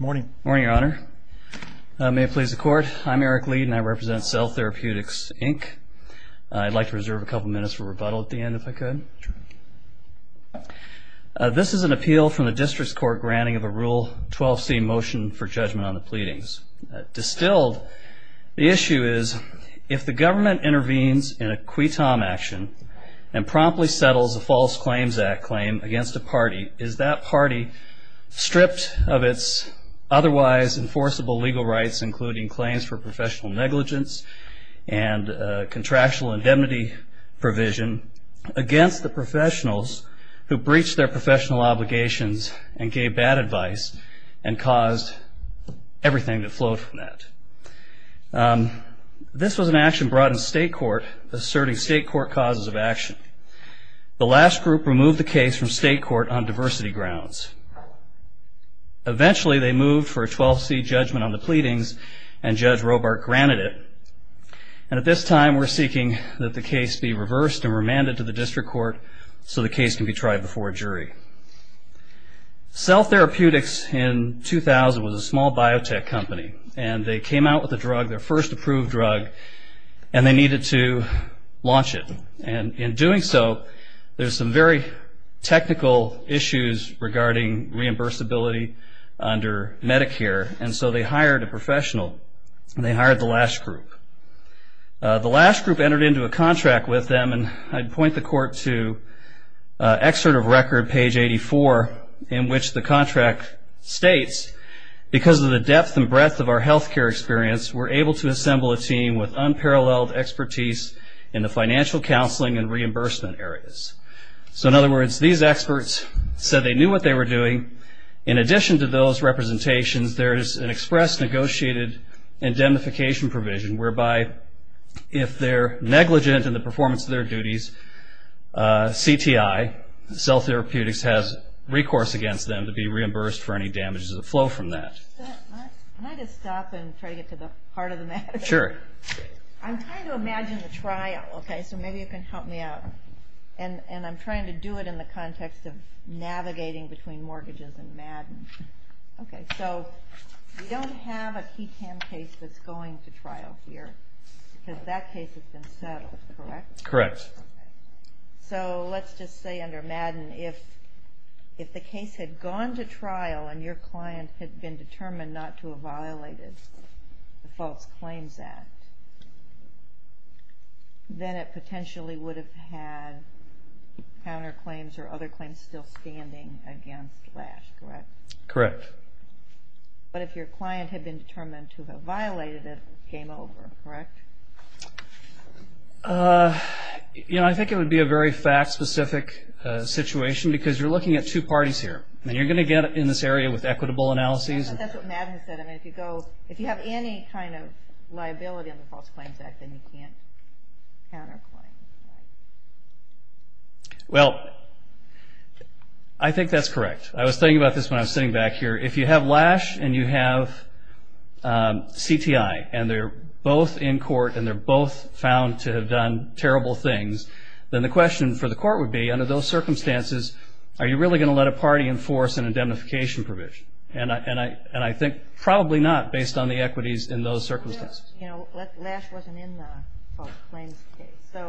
Morning. Morning, Your Honor. May it please the Court. I'm Eric Leed and I represent Cell Therapeutics Inc. I'd like to reserve a couple minutes for rebuttal at the end if I could. This is an appeal from the District's Court granting of a Rule 12c motion for judgment on the pleadings. Distilled, the issue is if the government intervenes in a QUETOM action and promptly settles a False Claims Act claim against a party, is that party stripped of its otherwise enforceable legal rights, including claims for professional negligence and contractual indemnity provision, against the professionals who breached their professional obligations and gave bad advice and caused everything to float from that. This was an action brought in State Court asserting State Court causes of action. The Lash Group removed the case from State Court on diversity grounds. Eventually they moved for a 12c judgment on the pleadings and Judge Robart granted it. And at this time we're seeking that the case be reversed and remanded to the District Court so the case can be tried before a jury. Cell Therapeutics in 2000 was a small biotech company and they came out with a drug, their first approved drug, and they needed to launch it. And in doing so, there's some very technical issues regarding reimbursability under Medicare, and so they hired a professional, and they hired the Lash Group. The Lash Group entered into a contract with them, and I'd point the Court to Excerpt of Record, page 84, in which the contract states, because of the depth and breadth of our health care experience, we're able to assemble a team with unparalleled expertise in the financial counseling and reimbursement areas. So in other words, these experts said they knew what they were doing. In addition to those representations, there is an express negotiated indemnification provision whereby if they're negligent in the performance of their duties, CTI, Cell Therapeutics, has recourse against them to be reimbursed for any damages that flow from that. Can I just stop and try to get to the heart of the matter? Sure. I'm trying to imagine the trial, okay, so maybe you can help me out. And I'm trying to do it in the context of navigating between mortgages and MADN. Okay, so we don't have a QI-TAM case that's going to trial here, because that case has been settled, correct? Correct. So let's just say under MADN, if the case had gone to trial and your client had been determined not to have violated the False Claims Act, then it potentially would have had counterclaims or other claims still standing against LASH, correct? Correct. But if your client had been determined to have violated it, game over, correct? You know, I think it would be a very fact-specific situation, because you're looking at two parties here. I mean, you're going to get in this area with equitable analyses. That's what MADN said. I mean, if you have any kind of liability on the False Claims Act, then you can't counterclaim, right? Well, I think that's correct. I was thinking about this when I was sitting back here. If you have LASH and you have CTI, and they're both in court and they're both found to have done terrible things, then the question for the court would be under those circumstances, are you really going to let a party enforce an indemnification provision? And I think probably not based on the equities in those circumstances. You know, LASH wasn't in the False Claims case.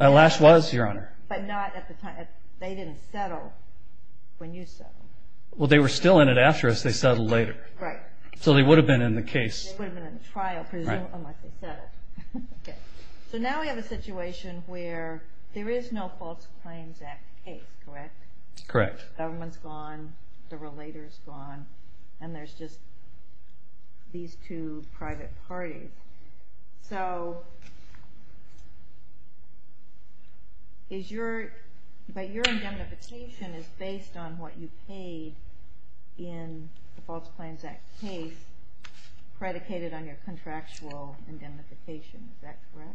LASH was, Your Honor. But not at the time. They didn't settle when you settled. Well, they were still in it after us. They settled later. Right. So they would have been in the case. They would have been in the trial, unless they settled. So now we have a situation where there is no False Claims Act case, correct? Correct. The government's gone, the relator's gone, and there's just these two private parties. So is your indemnification is based on what you paid in the False Claims Act case predicated on your contractual indemnification. Is that correct?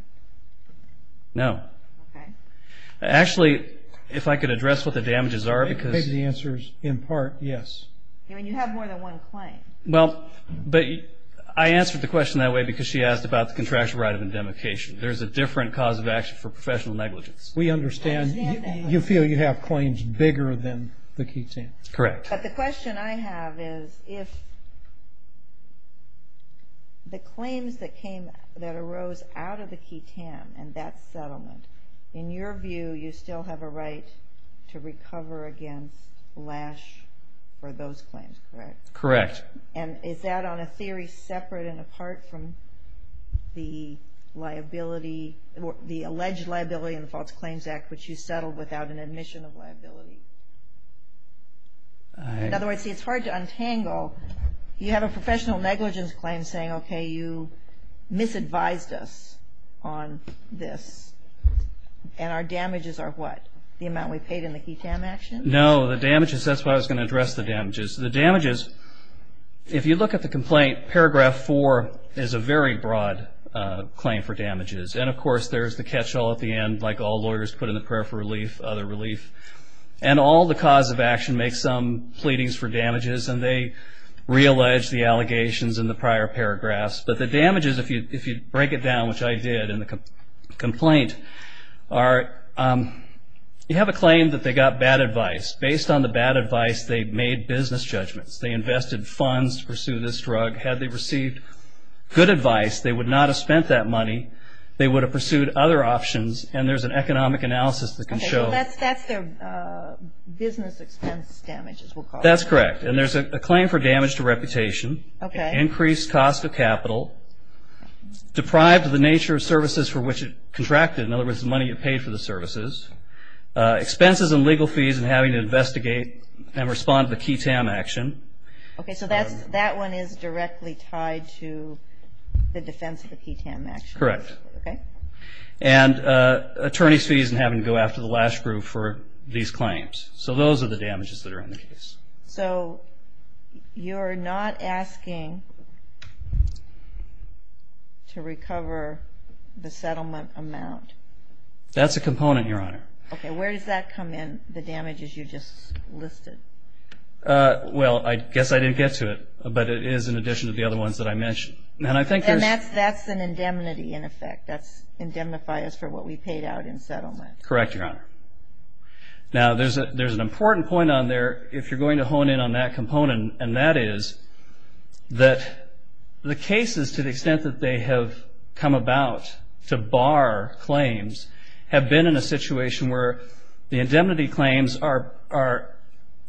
No. Okay. Actually, if I could address what the damages are. Maybe the answer is, in part, yes. I mean, you have more than one claim. Well, I answered the question that way because she asked about the contractual right of indemnification. There's a different cause of action for professional negligence. We understand. You feel you have claims bigger than the QTAM. Correct. But the question I have is, if the claims that arose out of the QTAM and that settlement, in your view, you still have a right to recover against LASH for those claims, correct? Correct. And is that on a theory separate and apart from the liability, the alleged liability in the False Claims Act which you settled without an admission of liability? In other words, see, it's hard to untangle. You have a professional negligence claim saying, okay, you misadvised us on this, and our damages are what? The amount we paid in the QTAM action? The damages, if you look at the complaint, Paragraph 4 is a very broad claim for damages. And, of course, there's the catch-all at the end, like all lawyers put in the prayer for relief, other relief. And all the cause of action makes some pleadings for damages, and they reallege the allegations in the prior paragraphs. But the damages, if you break it down, which I did in the complaint, are you have a claim that they got bad advice. Based on the bad advice, they made business judgments. They invested funds to pursue this drug. Had they received good advice, they would not have spent that money. They would have pursued other options, and there's an economic analysis that can show. Okay, so that's their business expense damages, we'll call it. That's correct. And there's a claim for damage to reputation. Okay. Increased cost of capital. Deprived of the nature of services for which it contracted. In other words, the money you paid for the services. Expenses and legal fees in having to investigate and respond to the QTAM action. Okay, so that one is directly tied to the defense of the QTAM action. Correct. Okay. And attorney's fees in having to go after the last group for these claims. So those are the damages that are in the case. So you're not asking to recover the settlement amount. That's a component, Your Honor. Okay, where does that come in, the damages you just listed? Well, I guess I didn't get to it, but it is in addition to the other ones that I mentioned. And that's an indemnity in effect. That's indemnify us for what we paid out in settlement. Correct, Your Honor. Now, there's an important point on there if you're going to hone in on that component, and that is that the cases, to the extent that they have come about to bar claims, have been in a situation where the indemnity claims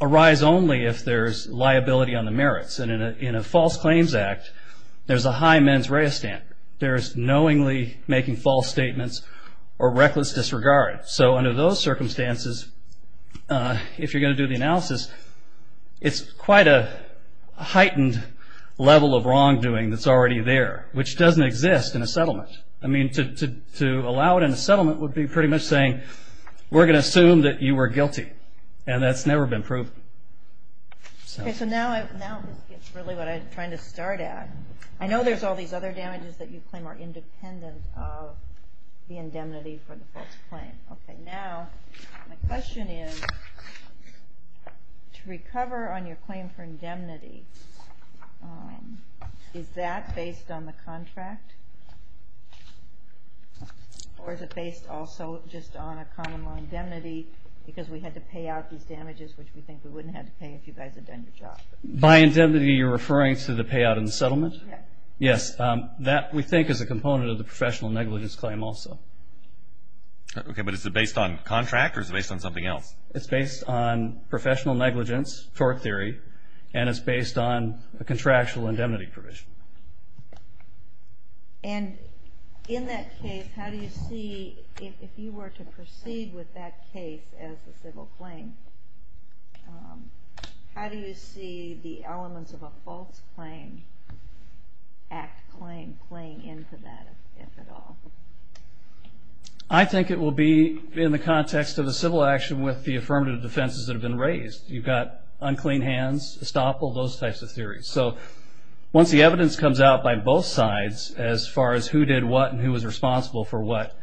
arise only if there's liability on the merits. And in a false claims act, there's a high mens rea standard. There's knowingly making false statements or reckless disregard. So under those circumstances, if you're going to do the analysis, it's quite a heightened level of wrongdoing that's already there, which doesn't exist in a settlement. I mean, to allow it in a settlement would be pretty much saying, we're going to assume that you were guilty, and that's never been proven. Okay, so now this gets really what I'm trying to start at. I know there's all these other damages that you claim are independent of the indemnity for the false claim. Okay, now my question is, to recover on your claim for indemnity, is that based on the contract? Or is it based also just on a common law indemnity because we had to pay out these damages, which we think we wouldn't have to pay if you guys had done your job? By indemnity, you're referring to the payout in the settlement? Yes. Yes, that we think is a component of the professional negligence claim also. Okay, but is it based on contract, or is it based on something else? It's based on professional negligence, tort theory, and it's based on a contractual indemnity provision. And in that case, how do you see, if you were to proceed with that case as a civil claim, how do you see the elements of a false claim act claim playing into that, if at all? I think it will be in the context of a civil action with the affirmative defenses that have been raised. You've got unclean hands, estoppel, those types of theories. So once the evidence comes out by both sides as far as who did what and who was responsible for what,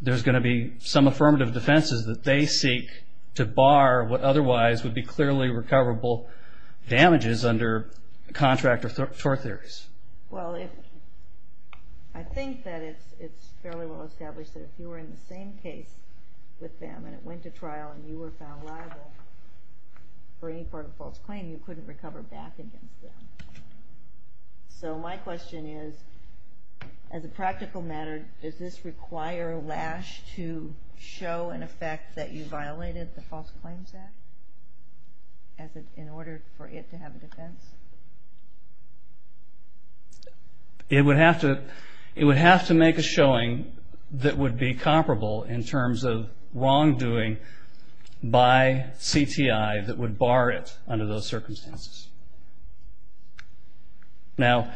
there's going to be some affirmative defenses that they seek to bar what otherwise would be clearly recoverable damages under contract or tort theories. Well, I think that it's fairly well established that if you were in the same case with them and it went to trial and you were found liable for any part of a false claim, you couldn't recover back against them. So my question is, as a practical matter, does this require LASH to show an effect that you violated the False Claims Act in order for it to have a defense? It would have to make a showing that would be comparable in terms of wrongdoing by CTI that would bar it under those circumstances. Now,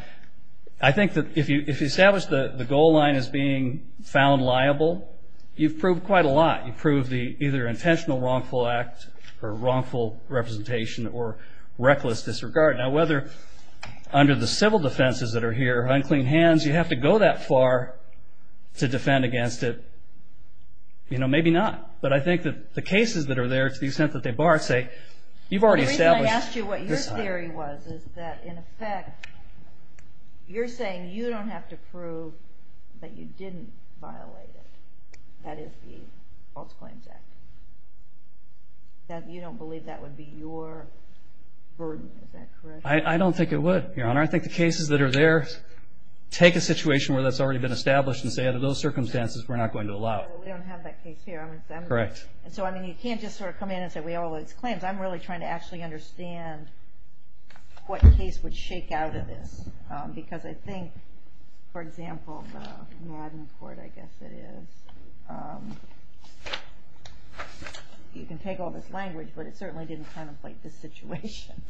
I think that if you establish the goal line as being found liable, you've proved quite a lot. You've proved the either intentional wrongful act or wrongful representation or reckless disregard. Now, whether under the civil defenses that are here, unclean hands, you have to go that far to defend against it, maybe not. But I think that the cases that are there to the extent that they bar it say you've already established. The reason I asked you what your theory was is that, in effect, you're saying you don't have to prove that you didn't violate it. That is the False Claims Act. You don't believe that would be your burden, is that correct? I don't think it would, Your Honor. I think the cases that are there take a situation where that's already been established and say under those circumstances we're not going to allow it. Well, we don't have that case here. Correct. And so, I mean, you can't just sort of come in and say we have all those claims. I'm really trying to actually understand what case would shake out of this. Because I think, for example, the Madden court, I guess it is. You can take all this language, but it certainly didn't contemplate this situation.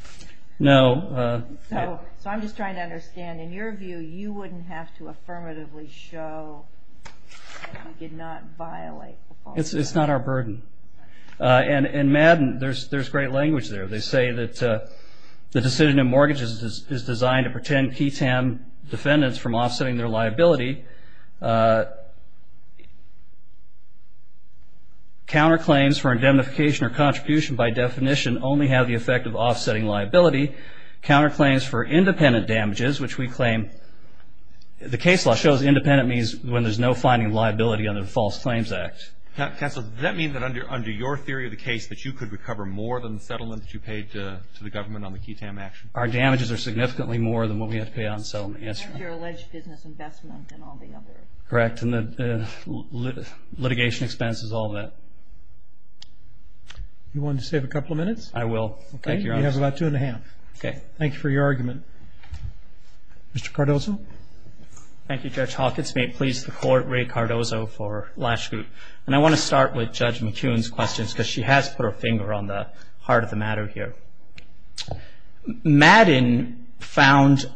No. So I'm just trying to understand. In your view, you wouldn't have to affirmatively show that you did not violate the False Claims Act. It's not our burden. And in Madden, there's great language there. They say that the decision in mortgages is designed to pretend ketam defendants from offsetting their liability. Counterclaims for indemnification or contribution by definition only have the effect of offsetting liability. Counterclaims for independent damages, which we claim, the case law shows independent means when there's no finding of liability under the False Claims Act. Counsel, does that mean that under your theory of the case, that you could recover more than the settlement that you paid to the government on the ketam action? Our damages are significantly more than what we have to pay on settlement. And your alleged business investment and all the other. Correct. And litigation expenses, all of that. You want to save a couple of minutes? I will. Thank you, Your Honor. You have about two and a half. Okay. Thank you for your argument. Mr. Cardozo. Thank you, Judge Hawkins. May it please the Court, Ray Cardozo for last group. And I want to start with Judge McCune's questions, because she has put her finger on the heart of the matter here. Madden found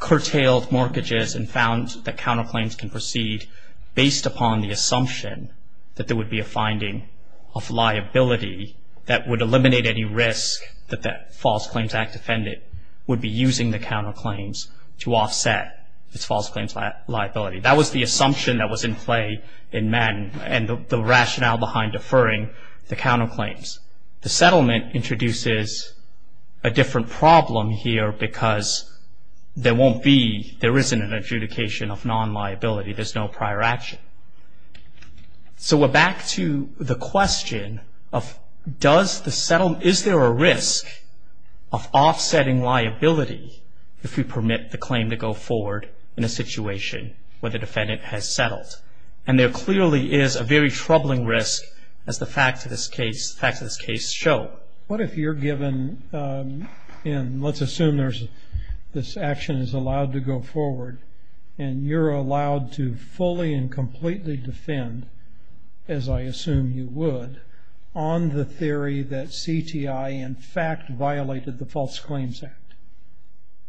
curtailed mortgages and found that counterclaims can proceed based upon the assumption that there would be a finding of liability that would eliminate any risk that the False Claims Act defendant would be using the counterclaims to offset its false claims liability. That was the assumption that was in play in Madden and the rationale behind deferring the counterclaims. The settlement introduces a different problem here because there won't be, there isn't an adjudication of non-liability. There's no prior action. So we're back to the question of does the settlement, is there a risk of offsetting liability if we permit the claim to go forward in a situation where the defendant has settled? And there clearly is a very troubling risk, as the facts of this case show. What if you're given, and let's assume this action is allowed to go forward, and you're allowed to fully and completely defend, as I assume you would, on the theory that CTI in fact violated the False Claims Act?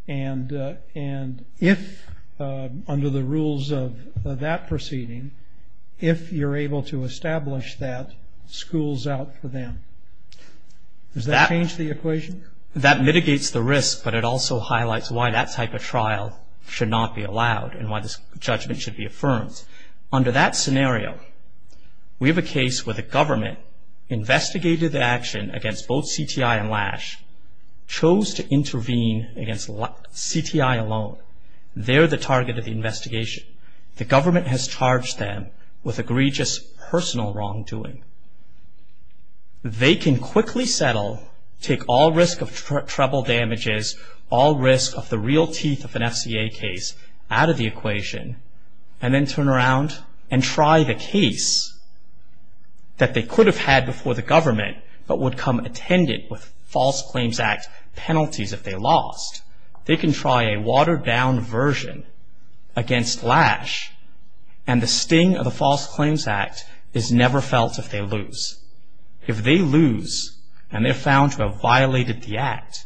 And if, under the rules of that proceeding, if you're able to establish that schools out for them. Does that change the equation? That mitigates the risk, but it also highlights why that type of trial should not be allowed and why this judgment should be affirmed. Under that scenario, we have a case where the government investigated the action against both CTI and Lash, chose to intervene against CTI alone. They're the target of the investigation. The government has charged them with egregious personal wrongdoing. They can quickly settle, take all risk of trouble damages, all risk of the real teeth of an FCA case out of the equation, and then turn around and try the case that they could have had before the government but would come attendant with False Claims Act penalties if they lost. They can try a watered-down version against Lash, and the sting of the False Claims Act is never felt if they lose. If they lose and they're found to have violated the act,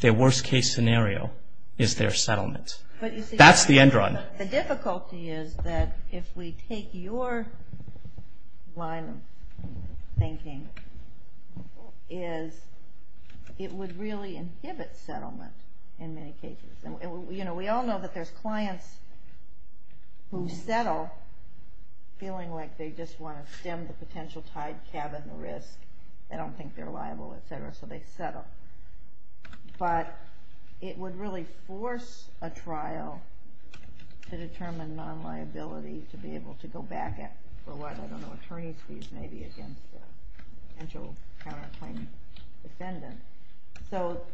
their worst-case scenario is their settlement. That's the end run. The difficulty is that if we take your line of thinking, is it would really inhibit settlement in many cases. We all know that there's clients who settle feeling like they just want to stem the potential tied cabin risk. They don't think they're liable, et cetera, so they settle. But it would really force a trial to determine non-liability to be able to go back for what, I don't know, attorney's fees maybe against a potential counterclaim defendant.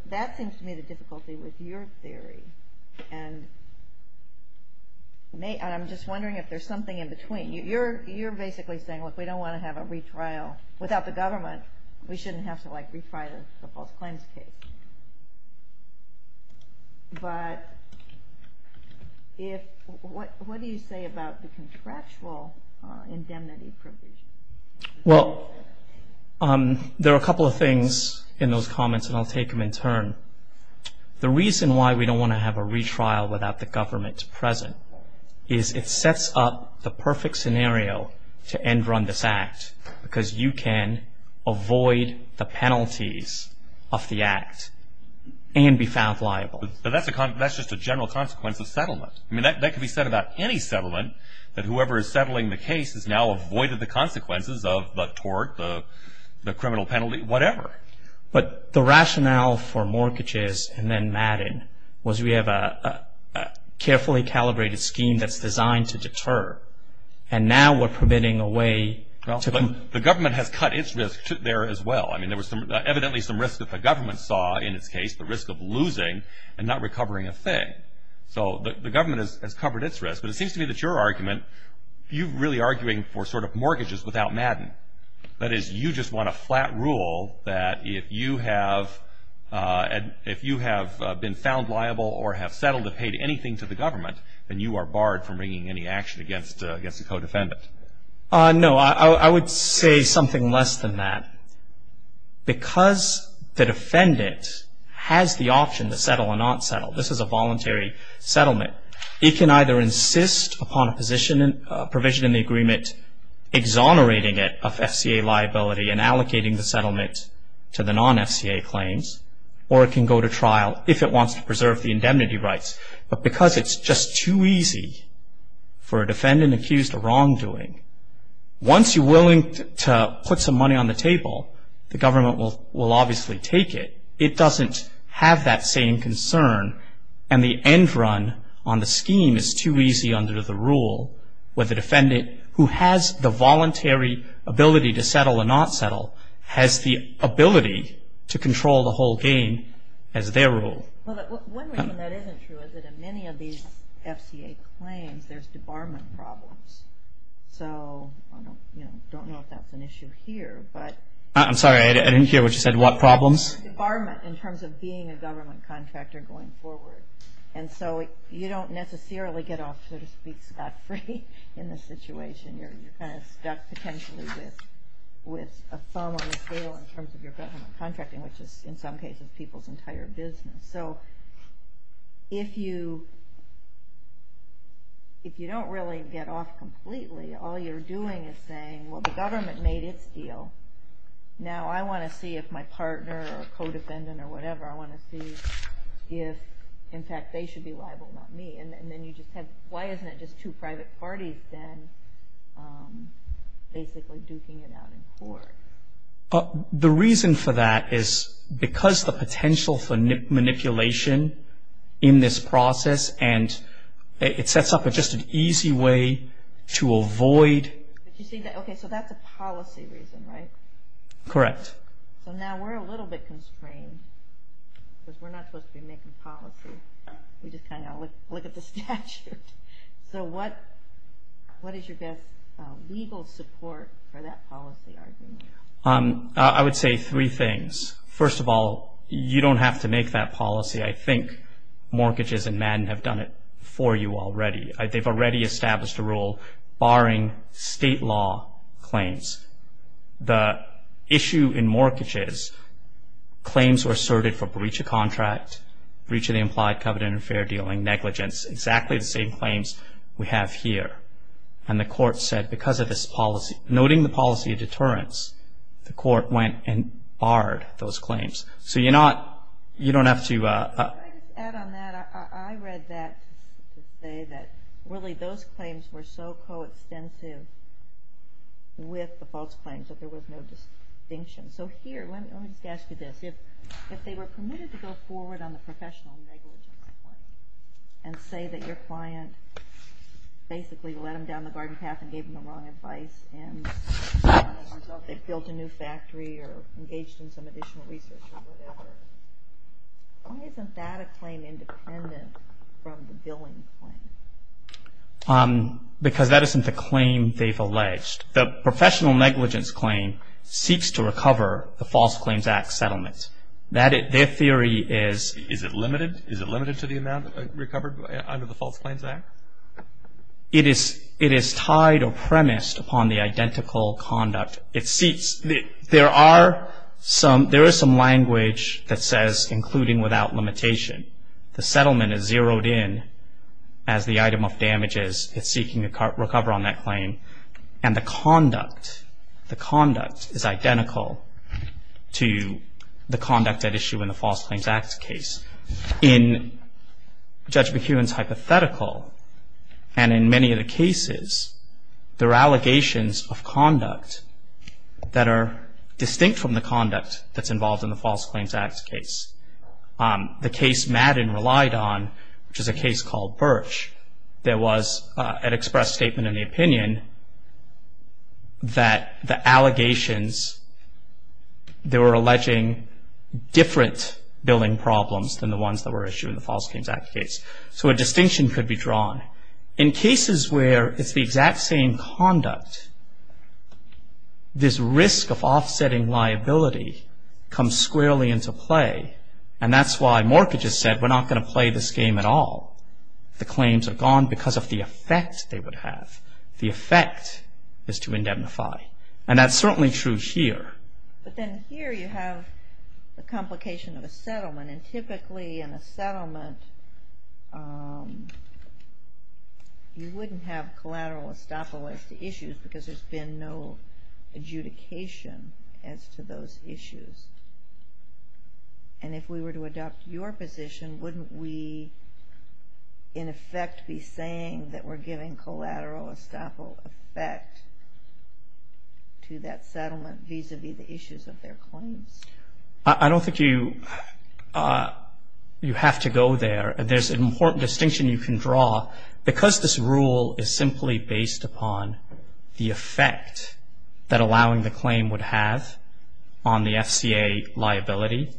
That seems to me the difficulty with your theory. I'm just wondering if there's something in between. You're basically saying, look, we don't want to have a retrial. Without the government, we shouldn't have to retry the false claims case. What do you say about the contractual indemnity provision? Well, there are a couple of things in those comments, and I'll take them in turn. The reason why we don't want to have a retrial without the government present is it sets up the perfect scenario to end run this act, because you can avoid the penalties of the act and be found liable. But that's just a general consequence of settlement. I mean, that could be said about any settlement, that whoever is settling the case has now avoided the consequences of the tort, the criminal penalty, whatever. But the rationale for mortgages and then Madden was we have a carefully calibrated scheme that's designed to deter. And now we're permitting a way to come – But the government has cut its risk there as well. I mean, there was evidently some risk that the government saw in its case, the risk of losing and not recovering a thing. So the government has covered its risk. But it seems to me that your argument – you're really arguing for sort of mortgages without Madden. That is, you just want a flat rule that if you have been found liable or have settled and paid anything to the government, then you are barred from bringing any action against a co-defendant. No, I would say something less than that. Because the defendant has the option to settle or not settle – this is a voluntary settlement – it can either insist upon a provision in the agreement exonerating it of FCA liability and allocating the settlement to the non-FCA claims, or it can go to trial if it wants to preserve the indemnity rights. But because it's just too easy for a defendant accused of wrongdoing, once you're willing to put some money on the table, the government will obviously take it. It doesn't have that same concern. And the end run on the scheme is too easy under the rule where the defendant, who has the voluntary ability to settle or not settle, has the ability to control the whole game as their rule. One reason that isn't true is that in many of these FCA claims, there's debarment problems. So I don't know if that's an issue here. I'm sorry, I didn't hear what you said. What problems? There's debarment in terms of being a government contractor going forward. And so you don't necessarily get off, so to speak, scot-free in this situation. You're kind of stuck potentially with a thumb on the scale in terms of your government contracting, which is in some cases people's entire business. So if you don't really get off completely, all you're doing is saying, well, the government made its deal. Now I want to see if my partner or co-defendant or whatever, I want to see if, in fact, they should be liable, not me. And then you just have, why isn't it just two private parties then basically duking it out in court? The reason for that is because the potential for manipulation in this process, and it sets up just an easy way to avoid. Okay, so that's a policy reason, right? Correct. So now we're a little bit constrained because we're not supposed to be making policy. We just kind of look at the statute. So what is your best legal support for that policy argument? I would say three things. First of all, you don't have to make that policy. I think mortgages and MADN have done it for you already. They've already established a rule barring state law claims. The issue in mortgages, claims were asserted for breach of contract, breach of the implied covenant of fair dealing, negligence, exactly the same claims we have here. And the court said because of this policy, noting the policy of deterrence, the court went and barred those claims. So you're not, you don't have to. Can I just add on that? I read that to say that really those claims were so coextensive with the false claims that there was no distinction. So here, let me just ask you this. If they were permitted to go forward on the professional negligence claim and say that your client basically led them down the garden path and gave them the wrong advice, and they built a new factory or engaged in some additional research or whatever, why isn't that a claim independent from the billing claim? Because that isn't the claim they've alleged. The professional negligence claim seeks to recover the False Claims Act settlement. That, their theory is. Is it limited? Is it limited to the amount recovered under the False Claims Act? It is tied or premised upon the identical conduct. There is some language that says including without limitation. The settlement is zeroed in as the item of damages. It's seeking to recover on that claim. And the conduct, the conduct is identical to the conduct at issue in the False Claims Act case. In Judge McEwen's hypothetical and in many of the cases, there are allegations of conduct that are distinct from the conduct that's involved in the False Claims Act case. The case Madden relied on, which is a case called Birch, there was an express statement in the opinion that the allegations, they were alleging different billing problems than the ones that were issued in the False Claims Act case. So a distinction could be drawn. In cases where it's the exact same conduct, this risk of offsetting liability comes squarely into play. And that's why Mortgage has said we're not going to play this game at all. The claims are gone because of the effect they would have. The effect is to indemnify. And that's certainly true here. But then here you have the complication of a settlement. And typically in a settlement, you wouldn't have collateral estoppel as to issues because there's been no adjudication as to those issues. And if we were to adopt your position, wouldn't we in effect be saying that we're giving collateral estoppel effect to that settlement vis-à-vis the issues of their claims? I don't think you have to go there. There's an important distinction you can draw. Because this rule is simply based upon the effect that allowing the claim would have on the FCA liability,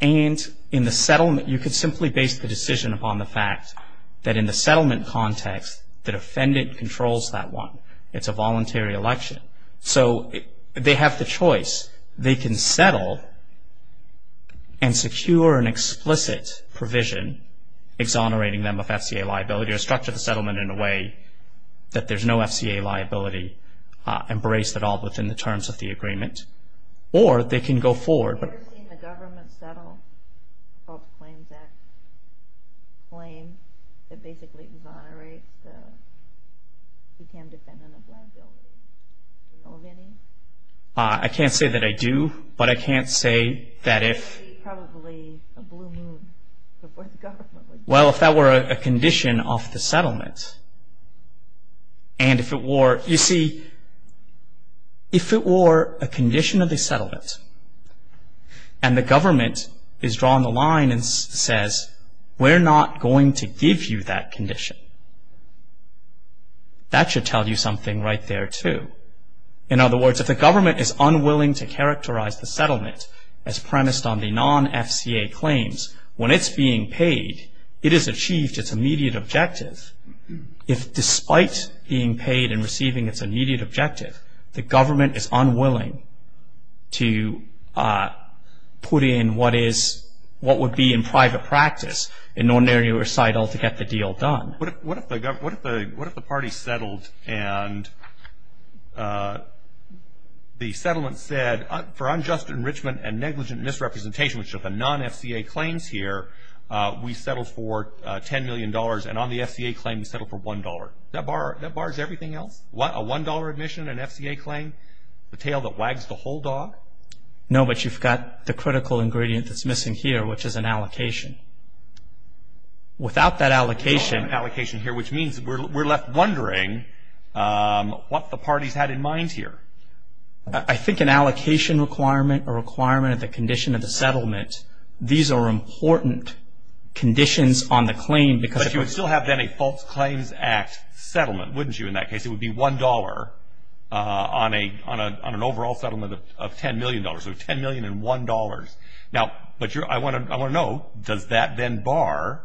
and you could simply base the decision upon the fact that in the settlement context, the defendant controls that one. It's a voluntary election. So they have the choice. They can settle and secure an explicit provision exonerating them of FCA liability or structure the settlement in a way that there's no FCA liability embraced at all within the terms of the agreement. Or they can go forward. Have you ever seen the government settle a Fault Claims Act claim that basically exonerates the CWCAM defendant of liability? Do you know of any? I can't say that I do, but I can't say that if... It would be probably a blue moon for the government. Well, if that were a condition of the settlement. And if it were... You see, if it were a condition of the settlement, and the government is drawing the line and says, we're not going to give you that condition, that should tell you something right there, too. In other words, if the government is unwilling to characterize the settlement as premised on the non-FCA claims, when it's being paid, it has achieved its immediate objective. If despite being paid and receiving its immediate objective, the government is unwilling to put in what would be in private practice, in ordinary recital, to get the deal done. What if the party settled and the settlement said, for unjust enrichment and negligent misrepresentation, which are the non-FCA claims here, we settled for $10 million, and on the FCA claim we settled for $1. That bars everything else? A $1 admission, an FCA claim, the tail that wags the whole dog? No, but you've got the critical ingredient that's missing here, which is an allocation. Without that allocation... Without that allocation here, which means we're left wondering what the party's had in mind here. I think an allocation requirement, a requirement of the condition of the settlement, these are important conditions on the claim because... But you would still have then a False Claims Act settlement, wouldn't you, in that case? It would be $1 on an overall settlement of $10 million. So $10 million and $1. Now, I want to know, does that then bar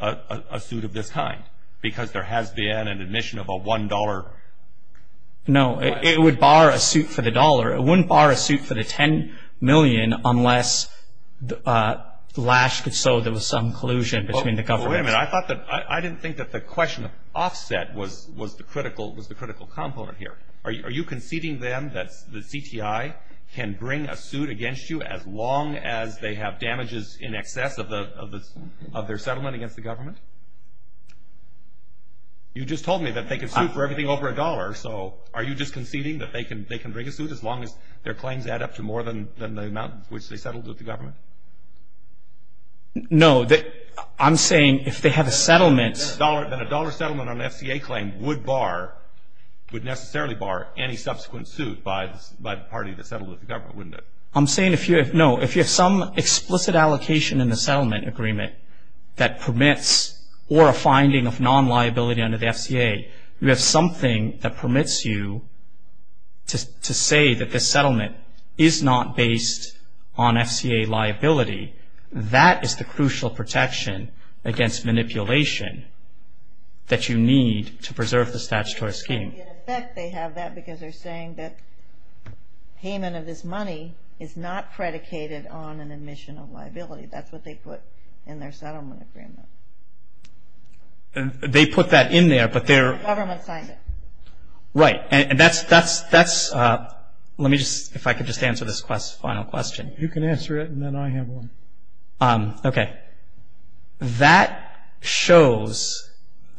a suit of this kind? Because there has been an admission of a $1... No, it would bar a suit for the dollar. It wouldn't bar a suit for the $10 million unless Lash could show there was some collusion between the governments. Wait a minute. I didn't think that the question of offset was the critical component here. Are you conceding then that the CTI can bring a suit against you as long as they have damages in excess of their settlement against the government? You just told me that they can sue for everything over a dollar, so are you just conceding that they can bring a suit as long as their claims add up to more than the amount which they settled with the government? No, I'm saying if they have a settlement... Then a dollar settlement on an FCA claim would bar, would necessarily bar any subsequent suit by the party that settled with the government, wouldn't it? I'm saying if you have some explicit allocation in the settlement agreement that permits or a finding of non-liability under the FCA, you have something that permits you to say that this settlement is not based on FCA liability. That is the crucial protection against manipulation that you need to preserve the statutory scheme. In effect, they have that because they're saying that payment of this money is not predicated on an admission of liability. That's what they put in their settlement agreement. They put that in there, but they're... The government signed it. Right, and that's... Let me just, if I could just answer this final question. You can answer it, and then I have one. Okay. That shows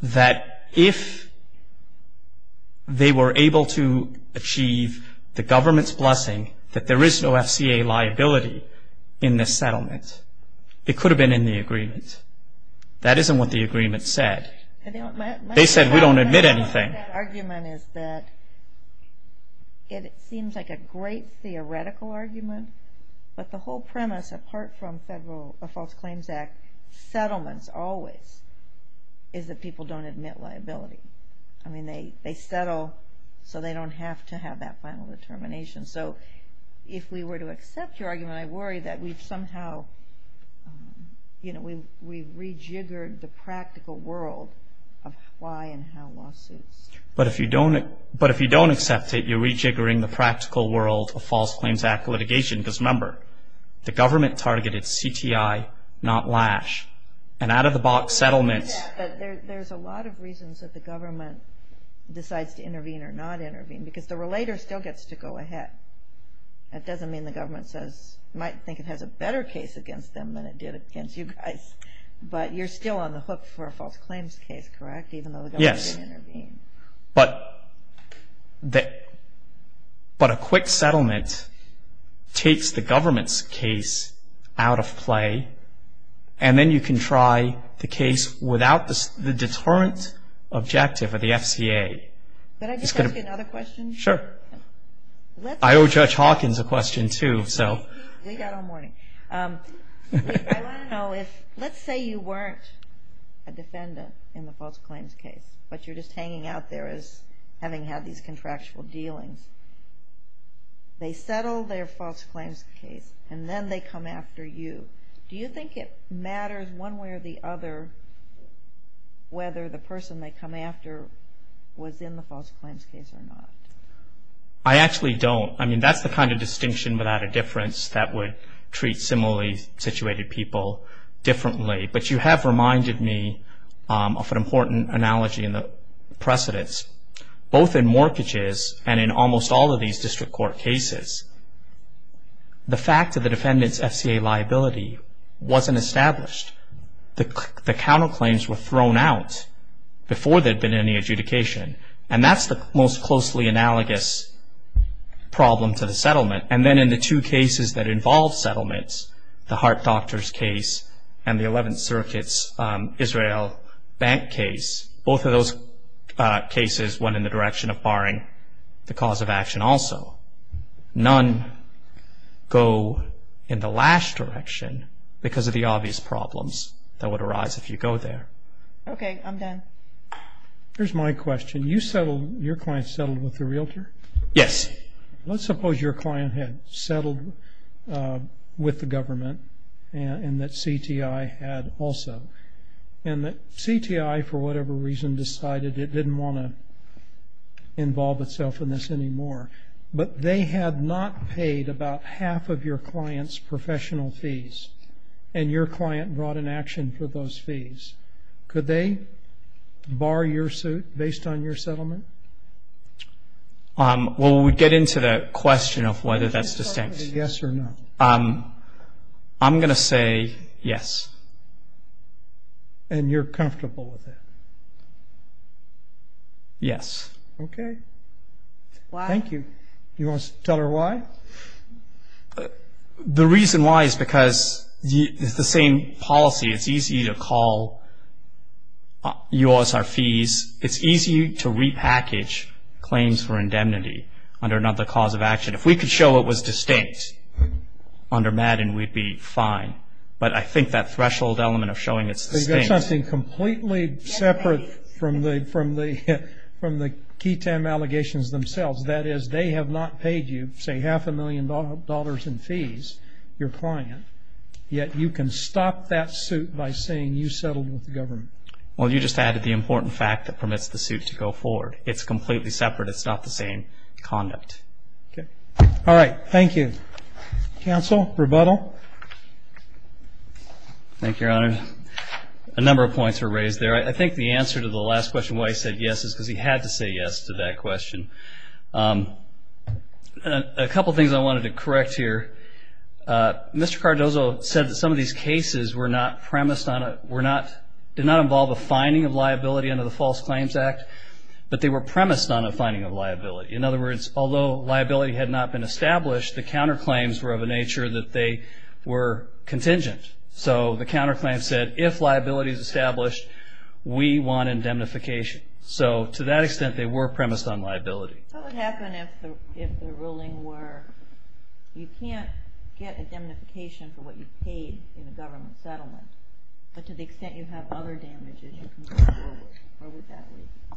that if they were able to achieve the government's blessing that there is no FCA liability in this settlement, it could have been in the agreement. That isn't what the agreement said. They said we don't admit anything. My argument is that it seems like a great theoretical argument, but the whole premise apart from Federal False Claims Act settlements always is that people don't admit liability. I mean, they settle so they don't have to have that final determination. So if we were to accept your argument, I worry that we've somehow, you know, we've rejiggered the practical world of why and how lawsuits... But if you don't accept it, you're rejiggering the practical world of False Claims Act litigation. Because remember, the government targeted CTI, not Lash, and out-of-the-box settlements... There's a lot of reasons that the government decides to intervene or not intervene because the relator still gets to go ahead. That doesn't mean the government might think it has a better case against them than it did against you guys. But you're still on the hook for a false claims case, correct, even though the government didn't intervene? Yes, but a quick settlement takes the government's case out of play, and then you can try the case without the deterrent objective of the FCA. Could I just ask you another question? Sure. I owe Judge Hawkins a question too, so... We got all morning. Let's say you weren't a defendant in the false claims case, but you're just hanging out there as having had these contractual dealings. They settle their false claims case, and then they come after you. Do you think it matters one way or the other whether the person they come after was in the false claims case or not? I actually don't. I mean, that's the kind of distinction without a difference that would treat similarly situated people differently. But you have reminded me of an important analogy in the precedence. Both in mortgages and in almost all of these district court cases, the fact of the defendant's FCA liability wasn't established. The counterclaims were thrown out before there had been any adjudication, and that's the most closely analogous problem to the settlement. And then in the two cases that involve settlements, the Hart Doctors case and the 11th Circuit's Israel Bank case, both of those cases went in the direction of barring the cause of action also. None go in the last direction because of the obvious problems that would arise if you go there. Okay, I'm done. Here's my question. You settled, your client settled with the realtor? Yes. Let's suppose your client had settled with the government, and that CTI had also. And that CTI, for whatever reason, decided it didn't want to involve itself in this anymore. But they had not paid about half of your client's professional fees, and your client brought an action for those fees. Could they bar your suit based on your settlement? Well, we'd get into that question of whether that's distinct. Yes or no? I'm going to say yes. And you're comfortable with that? Yes. Okay. Thank you. Do you want to tell her why? The reason why is because it's the same policy. It's easy to call UOS our fees. It's easy to repackage claims for indemnity under another cause of action. If we could show it was distinct under Madden, we'd be fine. But I think that threshold element of showing it's distinct. So you've got something completely separate from the KTAM allegations themselves. That is, they have not paid you, say, half a million dollars in fees, your client, yet you can stop that suit by saying you settled with the government. Well, you just added the important fact that permits the suit to go forward. It's completely separate. It's not the same conduct. Okay. All right. Thank you. Counsel, rebuttal? Thank you, Your Honor. A number of points were raised there. I think the answer to the last question, why he said yes, is because he had to say yes to that question. A couple things I wanted to correct here. Mr. Cardozo said that some of these cases were not premised on a – did not involve a finding of liability under the False Claims Act, but they were premised on a finding of liability. In other words, although liability had not been established, the counterclaims were of a nature that they were contingent. So the counterclaim said, if liability is established, we want indemnification. So to that extent, they were premised on liability. What would happen if the ruling were, you can't get indemnification for what you paid in a government settlement, but to the extent you have other damages, you can go forward that way?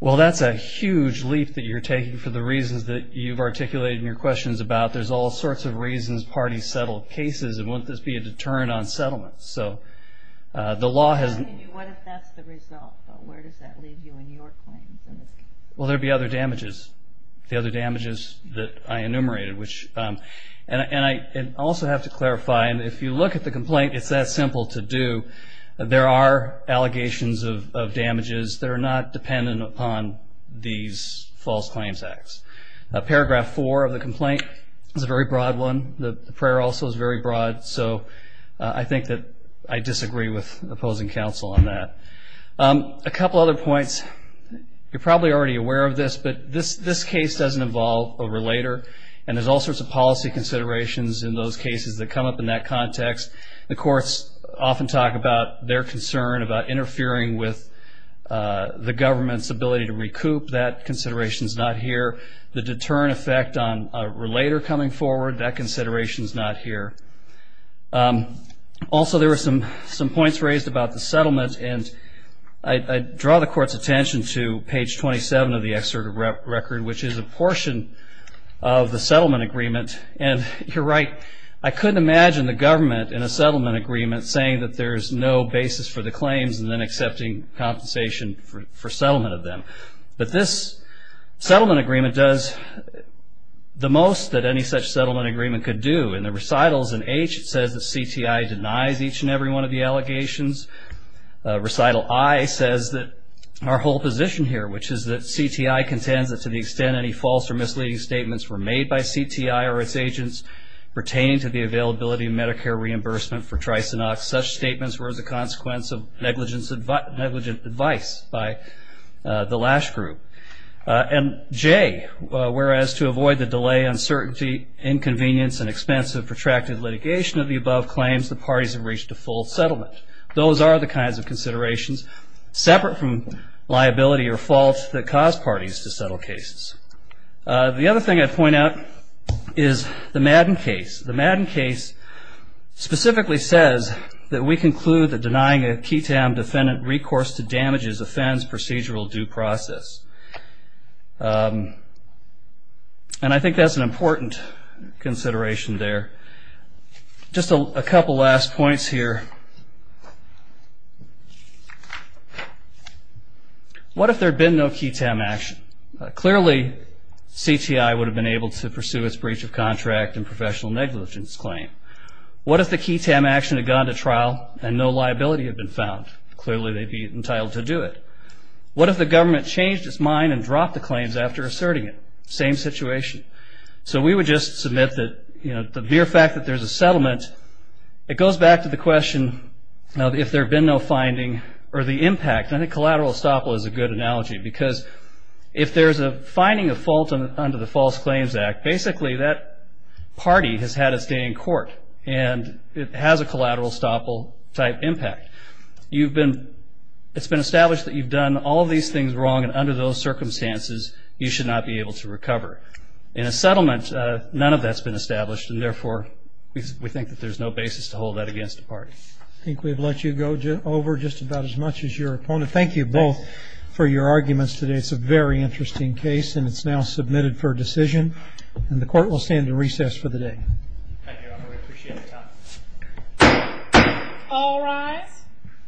Well, that's a huge leap that you're taking for the reasons that you've articulated in your questions about. There's all sorts of reasons parties settle cases, and wouldn't this be a deterrent on settlements? So the law has – What if that's the result, but where does that leave you in your claims? Well, there would be other damages, the other damages that I enumerated, which – and I also have to clarify, if you look at the complaint, it's that simple to do. There are allegations of damages that are not dependent upon these false claims acts. Paragraph 4 of the complaint is a very broad one. The prayer also is very broad. So I think that I disagree with opposing counsel on that. A couple other points. You're probably already aware of this, but this case doesn't involve a relator, and there's all sorts of policy considerations in those cases that come up in that context. The courts often talk about their concern about interfering with the government's ability to recoup. That consideration's not here. The deterrent effect on a relator coming forward, that consideration's not here. Also, there were some points raised about the settlement, and I draw the court's attention to page 27 of the excerpt of record, which is a portion of the settlement agreement, and you're right. I couldn't imagine the government in a settlement agreement saying that there's no basis for the claims and then accepting compensation for settlement of them. But this settlement agreement does the most that any such settlement agreement could do. In the recitals in H, it says that CTI denies each and every one of the allegations. Recital I says that our whole position here, which is that CTI contends that to the extent any false or misleading statements were made by CTI or its agents pertaining to the availability of Medicare reimbursement for Tricinox, such statements were as a consequence of negligent advice by the Lash Group. And J, whereas to avoid the delay, uncertainty, inconvenience, and expense of protracted litigation of the above claims, the parties have reached a full settlement. Those are the kinds of considerations, separate from liability or fault, that cause parties to settle cases. The other thing I'd point out is the Madden case. The Madden case specifically says that we conclude that denying a KETAM defendant recourse to damage is offends procedural due process. And I think that's an important consideration there. Just a couple last points here. What if there had been no KETAM action? Clearly, CTI would have been able to pursue its breach of contract and professional negligence claim. What if the KETAM action had gone to trial and no liability had been found? Clearly, they'd be entitled to do it. What if the government changed its mind and dropped the claims after asserting it? Same situation. So we would just submit that the mere fact that there's a settlement, it goes back to the question of if there had been no finding or the impact. I think collateral estoppel is a good analogy because if there's a finding of fault under the False Claims Act, basically that party has had its day in court, and it has a collateral estoppel-type impact. It's been established that you've done all these things wrong, and under those circumstances you should not be able to recover. In a settlement, none of that's been established, I think we've let you go over just about as much as your opponent. Thank you both for your arguments today. It's a very interesting case, and it's now submitted for decision, and the court will stand in recess for the day. Thank you, Your Honor. We appreciate it. All rise.